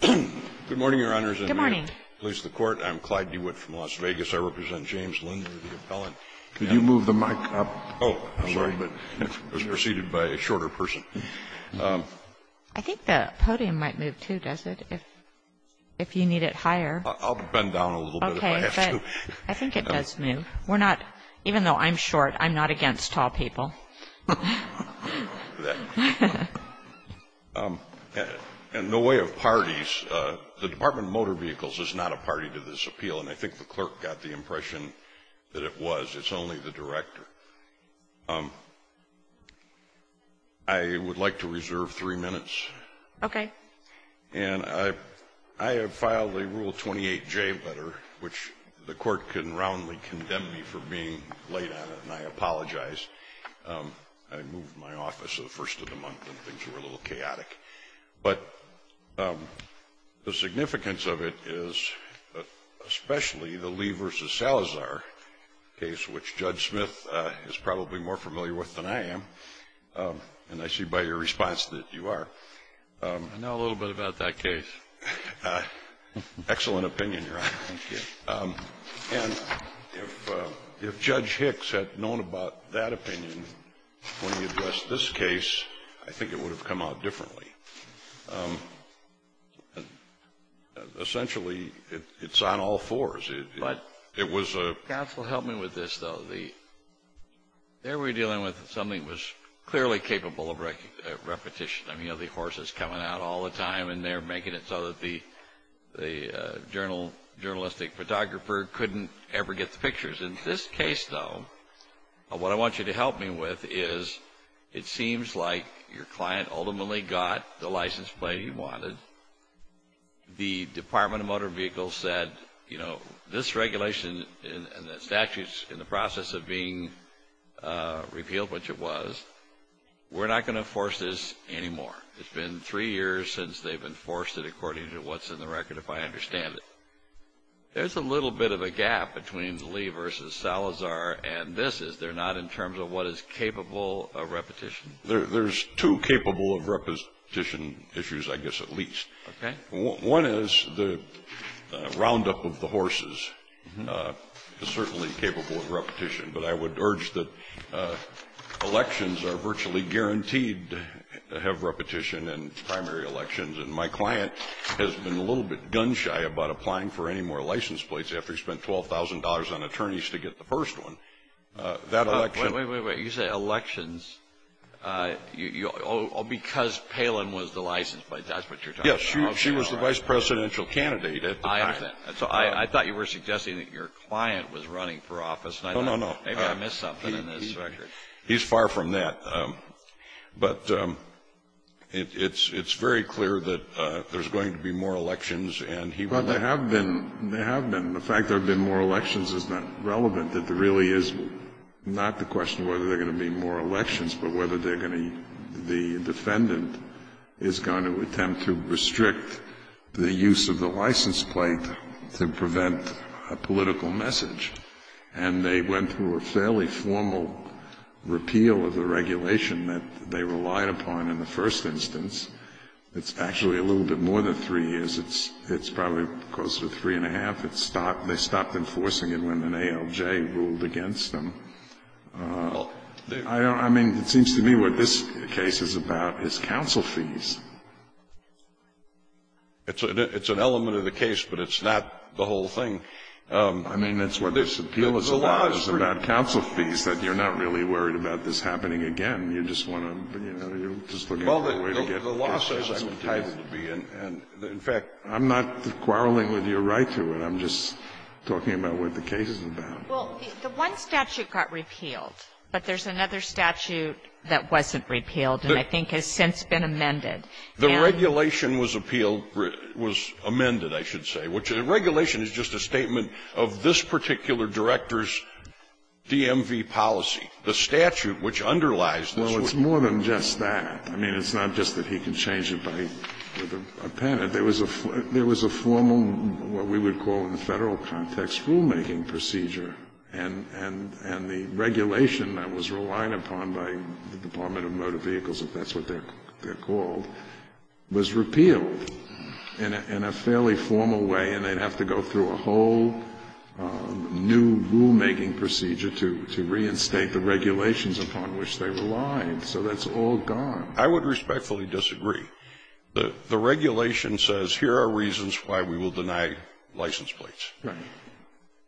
Good morning, Your Honors, and may it please the Court, I'm Clyde DeWitt from Las Vegas. I represent James Linlor, the appellant. Could you move the mic up a little bit? Oh, I'm sorry, but it was preceded by a shorter person. I think the podium might move, too, does it, if you need it higher? I'll bend down a little bit if I have to. Okay, but I think it does move. We're not — even though I'm short, I'm not against tall people. In the way of parties, the Department of Motor Vehicles is not a party to this appeal, and I think the clerk got the impression that it was. It's only the director. I would like to reserve three minutes. Okay. And I have filed a Rule 28J letter, which the Court can roundly condemn me for being late on it, and I apologize. I moved my office the first of the month, and things were a little chaotic. But the significance of it is especially the Lee v. Salazar case, which Judge Smith is probably more familiar with than I am, and I see by your response that you are. I know a little bit about that case. Excellent opinion, Your Honor. Thank you. And if Judge Hicks had known about that opinion when he addressed this case, I think it would have come out differently. Essentially, it's on all fours. It was a — Counsel, help me with this, though. The — there we're dealing with something that was clearly capable of repetition. I mean, you have the horses coming out all the time, and they're making it so that the journalistic photographer couldn't ever get the pictures. In this case, though, what I want you to help me with is it seems like your client ultimately got the license plate he wanted. The Department of Motor Vehicles said, you know, this regulation and the statutes in the process of being repealed, which it was, we're not going to force this anymore. It's been three years since they've enforced it according to what's in the record, if I understand it. There's a little bit of a gap between Lee v. Salazar, and this is they're not in terms of what is capable of repetition. There's two capable of repetition issues, I guess, at least. Okay. One is the roundup of the horses is certainly capable of repetition. But I would urge that elections are virtually guaranteed to have repetition in primary elections. And my client has been a little bit gun-shy about applying for any more license plates after he spent $12,000 on attorneys to get the first one. That election — Wait, wait, wait. You say elections — because Palin was the license plate, that's what you're talking about. Yes, she was the vice presidential candidate at the time. I understand. So I thought you were suggesting that your client was running for office. No, no, no. Maybe I missed something in this record. He's far from that. But it's very clear that there's going to be more elections, and he — But there have been. There have been. The fact there have been more elections is not relevant. It really is not the question of whether there are going to be more elections, but whether they're going to — the defendant is going to attempt to restrict the use of the license plate to prevent a political message. And they went through a fairly formal repeal of the regulation that they relied upon in the first instance. It's actually a little bit more than three years. It's probably closer to three and a half. It's stopped — they stopped enforcing it when the ALJ ruled against them. I don't — I mean, it seems to me what this case is about is counsel fees. It's an element of the case, but it's not the whole thing. I mean, that's what this appeal is about, is about counsel fees, that you're not really worried about this happening again. You just want to — you know, you're just looking for a way to get the case to a second hearing. In fact, I'm not quarreling with your right to it. I'm just talking about what the case is about. Well, the one statute got repealed, but there's another statute that wasn't repealed and I think has since been amended. The regulation was appealed — was amended, I should say, which — the regulation is just a statement of this particular director's DMV policy. The statute which underlies this would — Well, it's more than just that. I mean, it's not just that he can change it by — with a pen. There was a — there was a formal, what we would call in the Federal context, rulemaking procedure. And the regulation that was relied upon by the Department of Motor Vehicles, if that's what they're called, was repealed in a fairly formal way, and they'd have to go through a whole new rulemaking procedure to reinstate the regulations upon which they relied. So that's all gone. I would respectfully disagree. The regulation says, here are reasons why we will deny license plates. Right.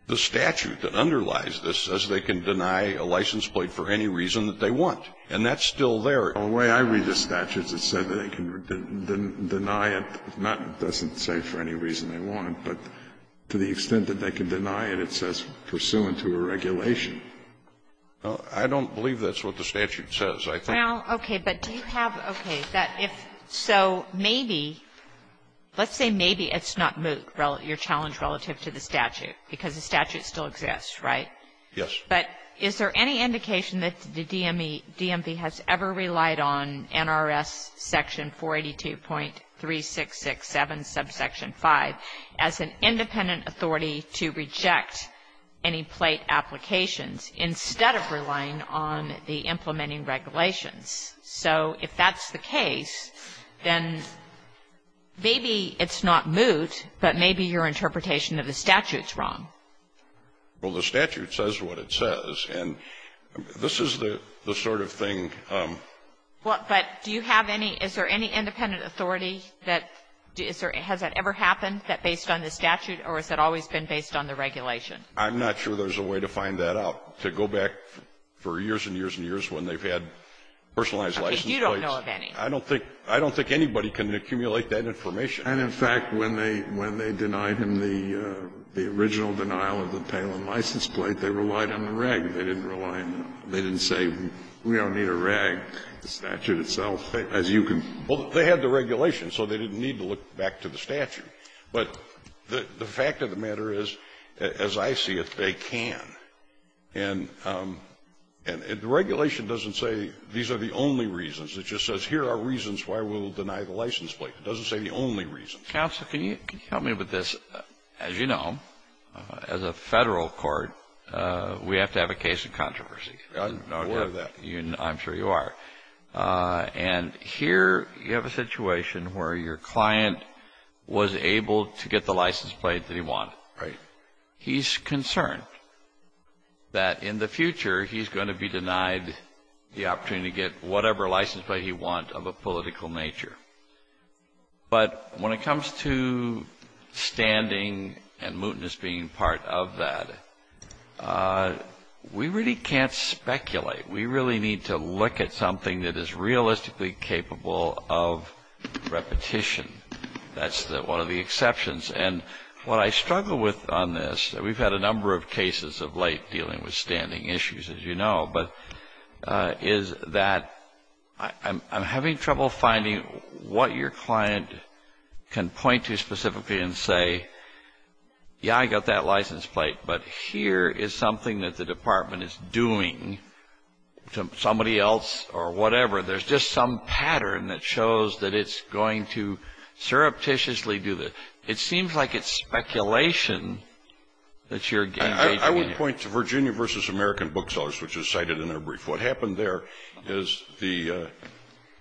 The statute that underlies this says they can deny a license plate for any reason that they want. And that's still there. The way I read the statute, it says that they can deny it, not that it doesn't say for any reason they want it, but to the extent that they can deny it, it says pursuant to a regulation. I don't believe that's what the statute says. I think — Well, okay. But do you have — okay. That if — so maybe — let's say maybe it's not moot, your challenge relative to the statute, because the statute still exists, right? Yes. But is there any indication that the DMV has ever relied on NRS section 482.3667, subsection 5, as an independent authority to reject any plate applications, instead of relying on the implementing regulations? So if that's the case, then maybe it's not moot, but maybe your interpretation of the statute's wrong. Well, the statute says what it says. And this is the sort of thing — Well, but do you have any — is there any independent authority that — has that ever happened, that based on the statute, or has that always been based on the regulation? I'm not sure there's a way to find that out. To go back for years and years and years when they've had personalized license plates — Okay. You don't know of any. I don't think — I don't think anybody can accumulate that information. And, in fact, when they — when they denied him the original denial of the Palin license plate, they relied on the reg. They didn't rely on the — they didn't say, we don't need a reg. The statute itself, as you can — Well, they had the regulation, so they didn't need to look back to the statute. But the fact of the matter is, as I see it, they can. And the regulation doesn't say these are the only reasons. It just says here are reasons why we'll deny the license plate. It doesn't say the only reasons. Counsel, can you help me with this? As you know, as a federal court, we have to have a case of controversy. I'm aware of that. I'm sure you are. And here you have a situation where your client was able to get the license plate that he wanted. Right. He's concerned that in the future he's going to be denied the opportunity to get whatever license plate he wants of a political nature. But when it comes to standing and mootness being part of that, we really can't speculate. We really need to look at something that is realistically capable of repetition. That's one of the exceptions. And what I struggle with on this — we've had a number of cases of late dealing with is that I'm having trouble finding what your client can point to specifically and say, yeah, I got that license plate, but here is something that the department is doing to somebody else or whatever. There's just some pattern that shows that it's going to surreptitiously do this. It seems like it's speculation that you're engaging in. I would point to Virginia v. American Booksellers, which was cited in their brief. What happened there is the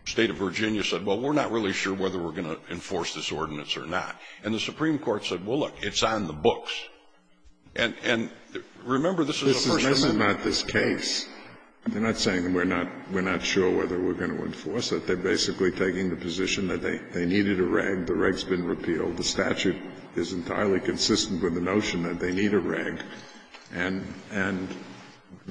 state of Virginia said, well, we're not really sure whether we're going to enforce this ordinance or not. And the Supreme Court said, well, look, it's on the books. And remember, this is a first amendment — This is not this case. They're not saying we're not sure whether we're going to enforce it. They're basically taking the position that they needed a reg. The reg's been repealed. The statute is entirely consistent with the notion that they need a reg. And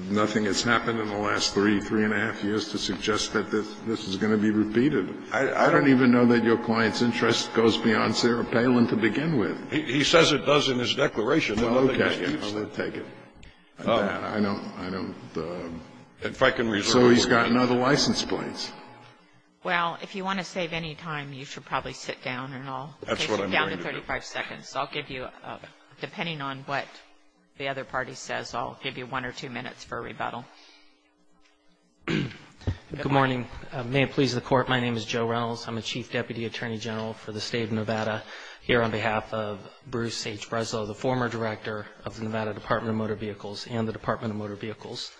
nothing has happened in the last three, three-and-a-half years to suggest that this is going to be repeated. I don't even know that your client's interest goes beyond Sarah Palin to begin with. He says it does in his declaration. Well, okay. I'll take it. I don't — so he's got another license plate. Well, if you want to save any time, you should probably sit down and I'll take it. That's what I'm going to do. Okay. Sit down to 35 seconds. I'll give you — depending on what the other party says, I'll give you one or two minutes for rebuttal. Good morning. May it please the Court. My name is Joe Reynolds. I'm a chief deputy attorney general for the State of Nevada here on behalf of Bruce H. Breslow, the former director of the Nevada Department of Motor Vehicles and the Department of Motor Vehicles.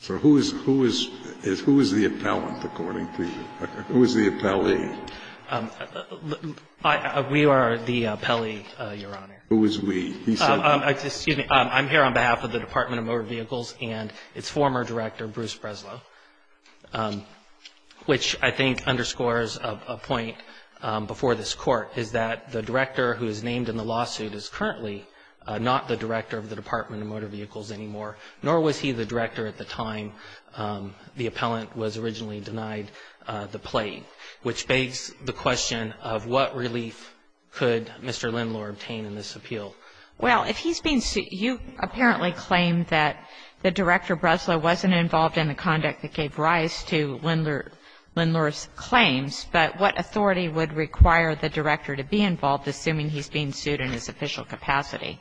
So who is — who is — who is the appellant, according to you? Who is the appellee? We are the appellee, Your Honor. Who is we? He said — Excuse me. I'm here on behalf of the Department of Motor Vehicles and its former director, Bruce Breslow, which I think underscores a point before this Court, is that the director who is named in the lawsuit is currently not the director of the Department of Motor Vehicles anymore, nor was he the director at the time the appellant was originally denied the plate, which begs the question of what relief could Mr. Lindlore obtain in this appeal? Well, if he's being — you apparently claim that the director, Breslow, wasn't involved in the conduct that gave rise to Lindlore's claims, but what authority would require the director to be involved, assuming he's being sued in his official capacity?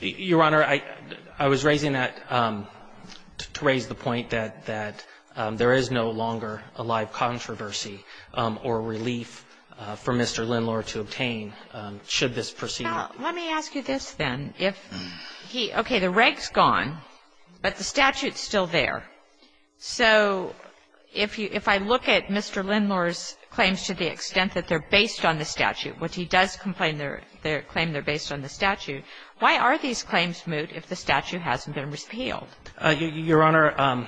Your Honor, I — I was raising that — to raise the point that — that there is no longer a live controversy or relief for Mr. Lindlore to obtain, should this proceed. Now, let me ask you this, then. If he — okay, the reg's gone, but the statute's still there. So if you — if I look at Mr. Lindlore's claims to the extent that they're based on the statute, which he does complain they're — they claim they're based on the statute, why are these claims moot if the statute hasn't been repealed? Your Honor,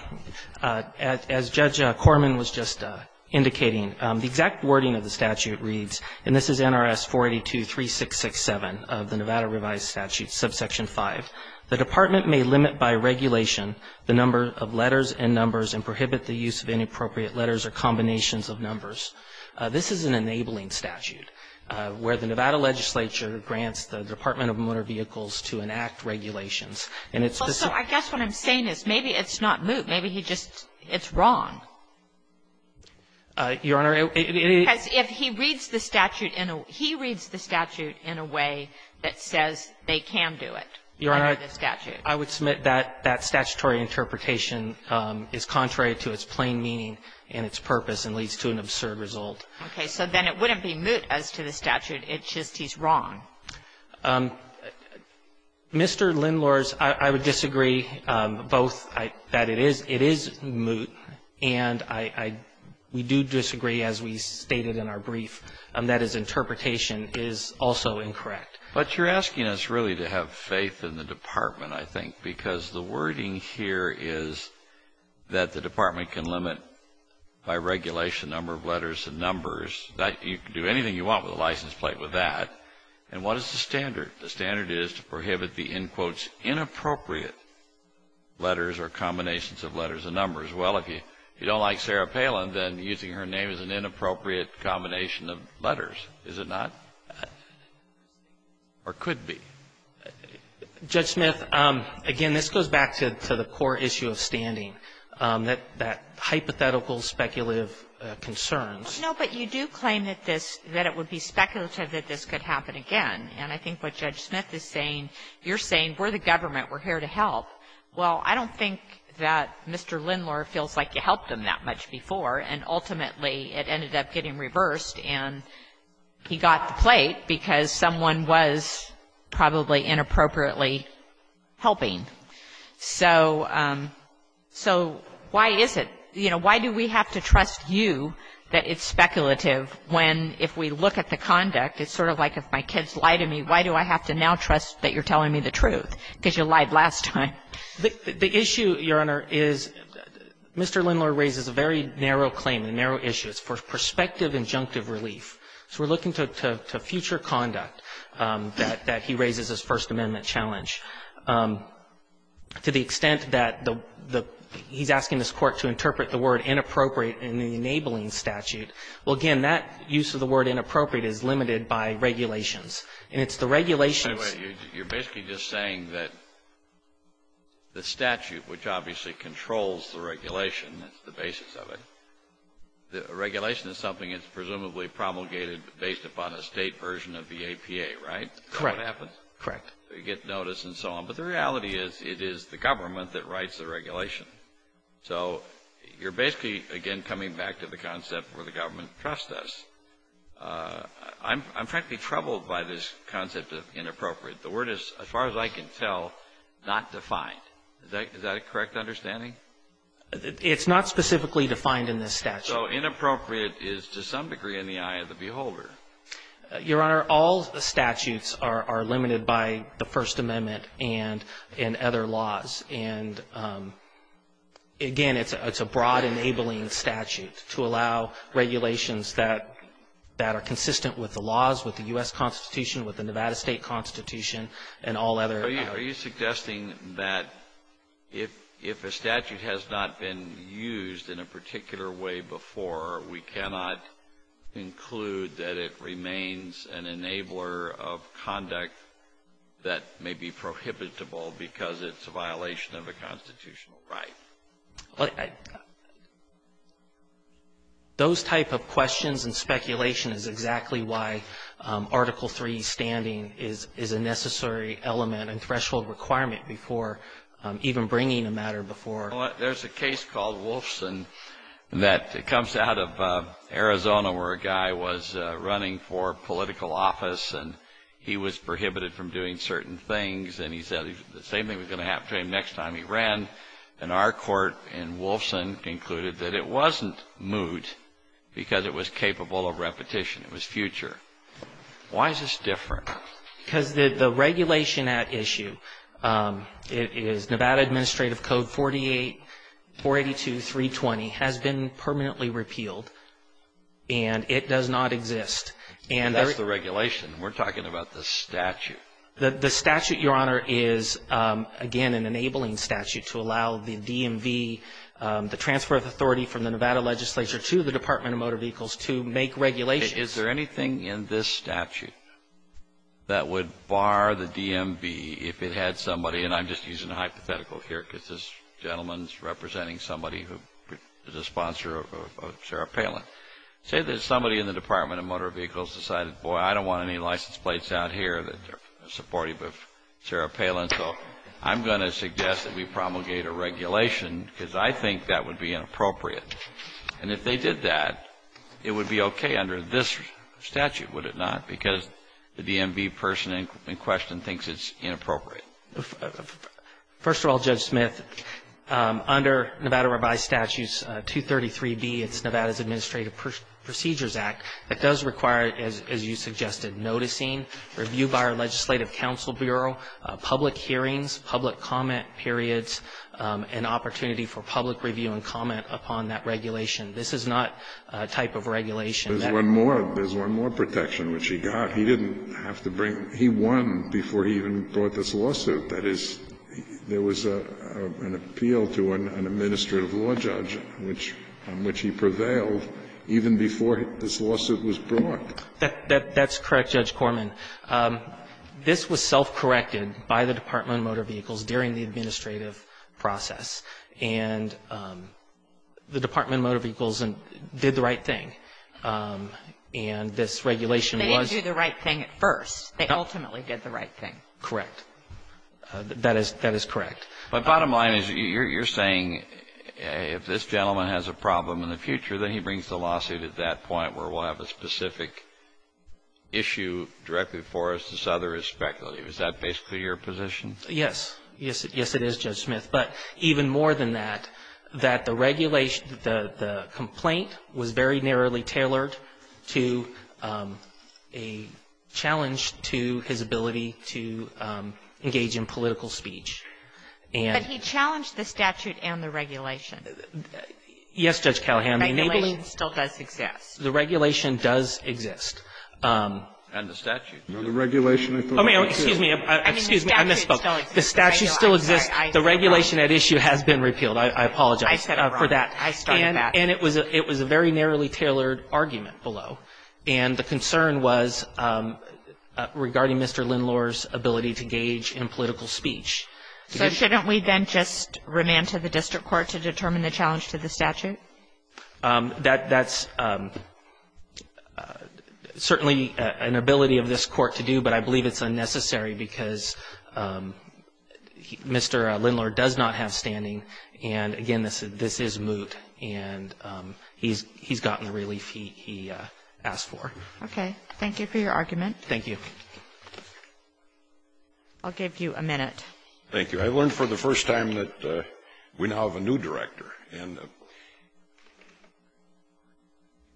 as — as Judge Corman was just indicating, the exact wording of the statute reads — and this is NRS 4823667 of the Nevada Revised Statute, subsection 5 — the department may limit by regulation the number of letters and numbers and prohibit the use of inappropriate letters or combinations of numbers. This is an enabling statute, where the Nevada Legislature grants the Department of Motor Vehicles to enact regulations. And it's — Well, so I guess what I'm saying is maybe it's not moot. Maybe he just — it's wrong. Your Honor, it — Because if he reads the statute in a — he reads the statute in a way that says they can do it under the statute. Your Honor, I would submit that that statutory interpretation is contrary to its plain meaning and its purpose and leads to an absurd result. Okay. So then it wouldn't be moot as to the statute. It's just he's wrong. Mr. Lindlores, I would disagree both that it is — it is moot, and I — we do disagree as we stated in our brief, that his interpretation is also incorrect. But you're asking us really to have faith in the Department, I think, because the wording here is that the Department can limit by regulation the number of letters and numbers. You can do anything you want with a license plate with that. And what is the standard? The standard is to prohibit the, in quotes, inappropriate letters or combinations of letters and numbers. Well, if you don't like Sarah Palin, then using her name is an inappropriate combination of letters, is it not, or could be? Judge Smith, again, this goes back to the core issue of standing, that hypothetical, speculative concerns. No, but you do claim that this — that it would be speculative that this could happen again. And I think what Judge Smith is saying — you're saying we're the government, we're here to help. Well, I don't think that Mr. Lindlore feels like you helped him that much before, and ultimately it ended up getting reversed, and he got the plate because someone was probably inappropriately helping. So — so why is it — you know, why do we have to trust you that it's speculative when, if we look at the conduct, it's sort of like if my kids lie to me, why do I have to now trust that you're telling me the truth, because you lied last time? The issue, Your Honor, is Mr. Lindlore raises a very narrow claim, a narrow issue. It's for prospective injunctive relief. So we're looking to future conduct that he raises as First Amendment challenge. To the extent that the — he's asking this Court to interpret the word inappropriate in the enabling statute, well, again, that use of the word inappropriate is limited by regulations. And it's the regulations — Anyway, you're basically just saying that the statute, which obviously controls the regulation, that's the basis of it, the regulation is something that's presumably promulgated based upon a state version of the APA, right? Correct. That's what happens. Correct. So you get notice and so on. But the reality is, it is the government that writes the regulation. So you're basically, again, coming back to the concept where the government trusts us. I'm frankly troubled by this concept of inappropriate. The word is, as far as I can tell, not defined. Is that a correct understanding? It's not specifically defined in this statute. So inappropriate is, to some degree, in the eye of the beholder. Your Honor, all statutes are limited by the First Amendment and other laws. And, again, it's a broad enabling statute to allow regulations that are consistent with the laws, with the U.S. Constitution, with the Nevada State Constitution, and all other Are you suggesting that if a statute has not been used in a particular way before, we cannot include that it remains an enabler of conduct that may be prohibitable because it's a violation of a constitutional right? Those type of questions and speculation is exactly why Article III standing is a necessary element and threshold requirement before even bringing a matter before There's a case called Wolfson that comes out of Arizona where a guy was running for political office and he was prohibited from doing certain things. And he said the same thing was going to happen to him next time he ran. And our court in Wolfson concluded that it wasn't moot because it was capable of repetition. It was future. Why is this different? Because the regulation at issue is Nevada Administrative Code 482.320 has been permanently repealed and it does not exist. And that's the regulation. We're talking about the statute. The statute, Your Honor, is, again, an enabling statute to allow the DMV, the transfer of authority from the Nevada legislature to the Department of Motor Vehicles to make regulations. Is there anything in this statute? That would bar the DMV if it had somebody and I'm just using a hypothetical here because this gentleman's representing somebody who is a sponsor of Sarah Palin. Say there's somebody in the Department of Motor Vehicles decided, boy, I don't want any license plates out here that are supportive of Sarah Palin. So I'm going to suggest that we promulgate a regulation because I think that would be inappropriate. And if they did that, it would be OK under this statute, would it not? Because the DMV person in question thinks it's inappropriate. First of all, Judge Smith, under Nevada Revised Statutes 233B, it's Nevada's Administrative Procedures Act, that does require, as you suggested, noticing, review by our legislative council bureau, public hearings, public comment periods, and opportunity for public review and comment upon that regulation. This is not a type of regulation. There's one more protection which he got. He didn't have to bring he won before he even brought this lawsuit. That is, there was an appeal to an administrative law judge on which he prevailed even before this lawsuit was brought. That's correct, Judge Corman. This was self-corrected by the Department of Motor Vehicles during the administrative process. And the Department of Motor Vehicles did the right thing. And this regulation was They didn't do the right thing at first. They ultimately did the right thing. Correct. That is correct. But bottom line is, you're saying if this gentleman has a problem in the future, then he brings the lawsuit at that point where we'll have a specific issue directed for us to souther his speculative. Is that basically your position? Yes. Yes, it is, Judge Smith. But even more than that, that the regulation, the complaint was very narrowly tailored to a challenge to his ability to engage in political speech. But he challenged the statute and the regulation. Yes, Judge Callahan. The regulation still does exist. The regulation does exist. And the statute. No, the regulation I thought was true. Excuse me, I misspoke. The statute still exists. The regulation at issue has been repealed. I apologize for that. I started that. And it was a very narrowly tailored argument below. And the concern was regarding Mr. Lindlore's ability to engage in political speech. So shouldn't we then just remand to the district court to determine the challenge to the statute? That's certainly an ability of this court to do, but I believe it's unnecessary because Mr. Lindlore does not have standing. And again, this is moot. And he's gotten the relief he asked for. Okay. Thank you for your argument. Thank you. I'll give you a minute. Thank you. I learned for the first time that we now have a new director. And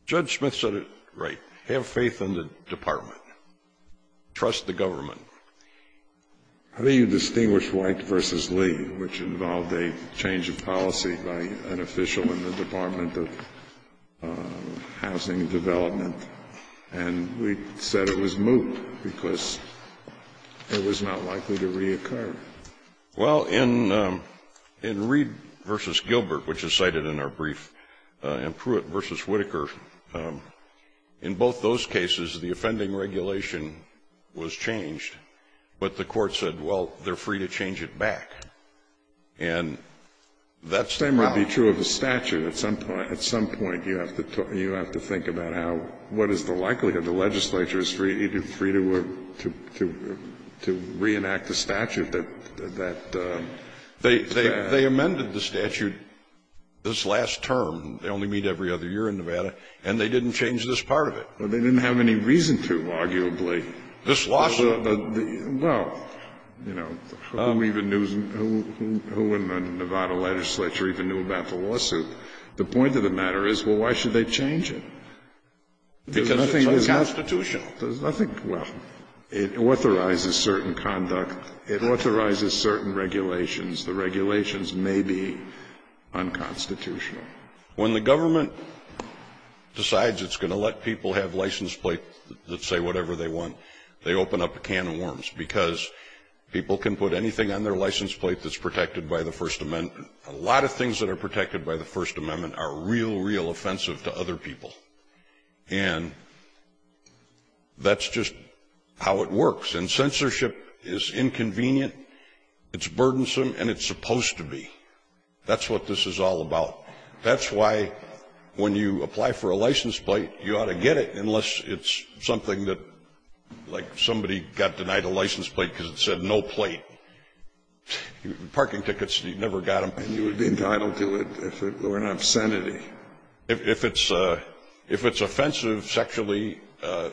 Judge Smith said it right. Have faith in the department. Trust the government. How do you distinguish White v. Lee, which involved a change of policy by an official in the Department of Housing and Development? And we said it was moot because it was not likely to reoccur. Well, in Reed v. Gilbert, which is cited in our brief, and Pruitt v. But the court said, well, they're free to change it back. And that's the problem. The same would be true of the statute. At some point, you have to think about how, what is the likelihood the legislature is free to reenact the statute? They amended the statute this last term. They only meet every other year in Nevada. And they didn't change this part of it. They didn't have any reason to, arguably. This lawsuit? Well, you know, who in the Nevada legislature even knew about the lawsuit? The point of the matter is, well, why should they change it? Because it's unconstitutional. I think, well, it authorizes certain conduct. It authorizes certain regulations. The regulations may be unconstitutional. When the government decides it's going to let people have license plates that say whatever they want, they open up a can of worms, because people can put anything on their license plate that's protected by the First Amendment. A lot of things that are protected by the First Amendment are real, real offensive to other people. And that's just how it works. And censorship is inconvenient, it's burdensome, and it's supposed to be. That's what this is all about. That's why when you apply for a license plate, you ought to get it, unless it's something that, like, somebody got denied a license plate because it said no plate. Parking tickets, you never got them. And you would be entitled to it if it were an obscenity. If it's offensive sexually,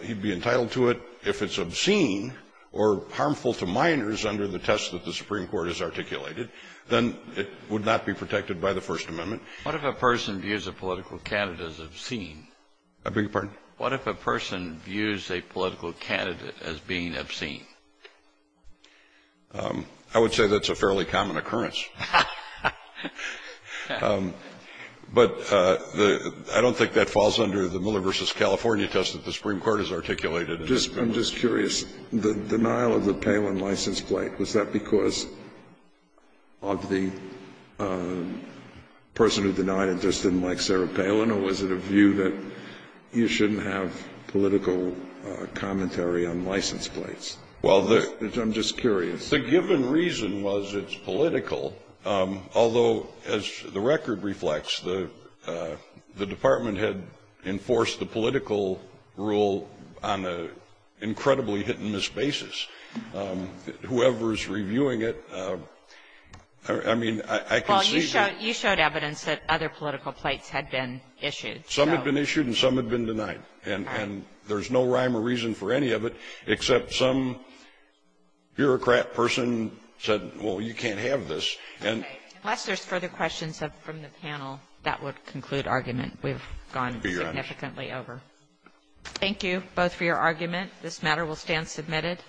he'd be entitled to it. If it's obscene or harmful to minors under the test that the Supreme Court has articulated, then it would not be protected by the First Amendment. What if a person views a political candidate as obscene? I beg your pardon? What if a person views a political candidate as being obscene? I would say that's a fairly common occurrence. But I don't think that falls under the Miller v. California test that the Supreme Court has articulated. I'm just curious, the denial of the Palin license plate, was that because of the person who denied it just didn't like Sarah Palin, or was it a view that you shouldn't have political commentary on license plates? I'm just curious. The given reason was it's political, although, as the record reflects, the Department had enforced the political rule on an incredibly hit-and-miss basis. Whoever is reviewing it, I mean, I can see that. You showed evidence that other political plates had been issued. Some had been issued and some had been denied, and there's no rhyme or reason for any of it, except some bureaucrat person said, well, you can't have this. Unless there's further questions from the panel, that would conclude argument. We've gone significantly over. Thank you both for your argument. This matter will stand submitted.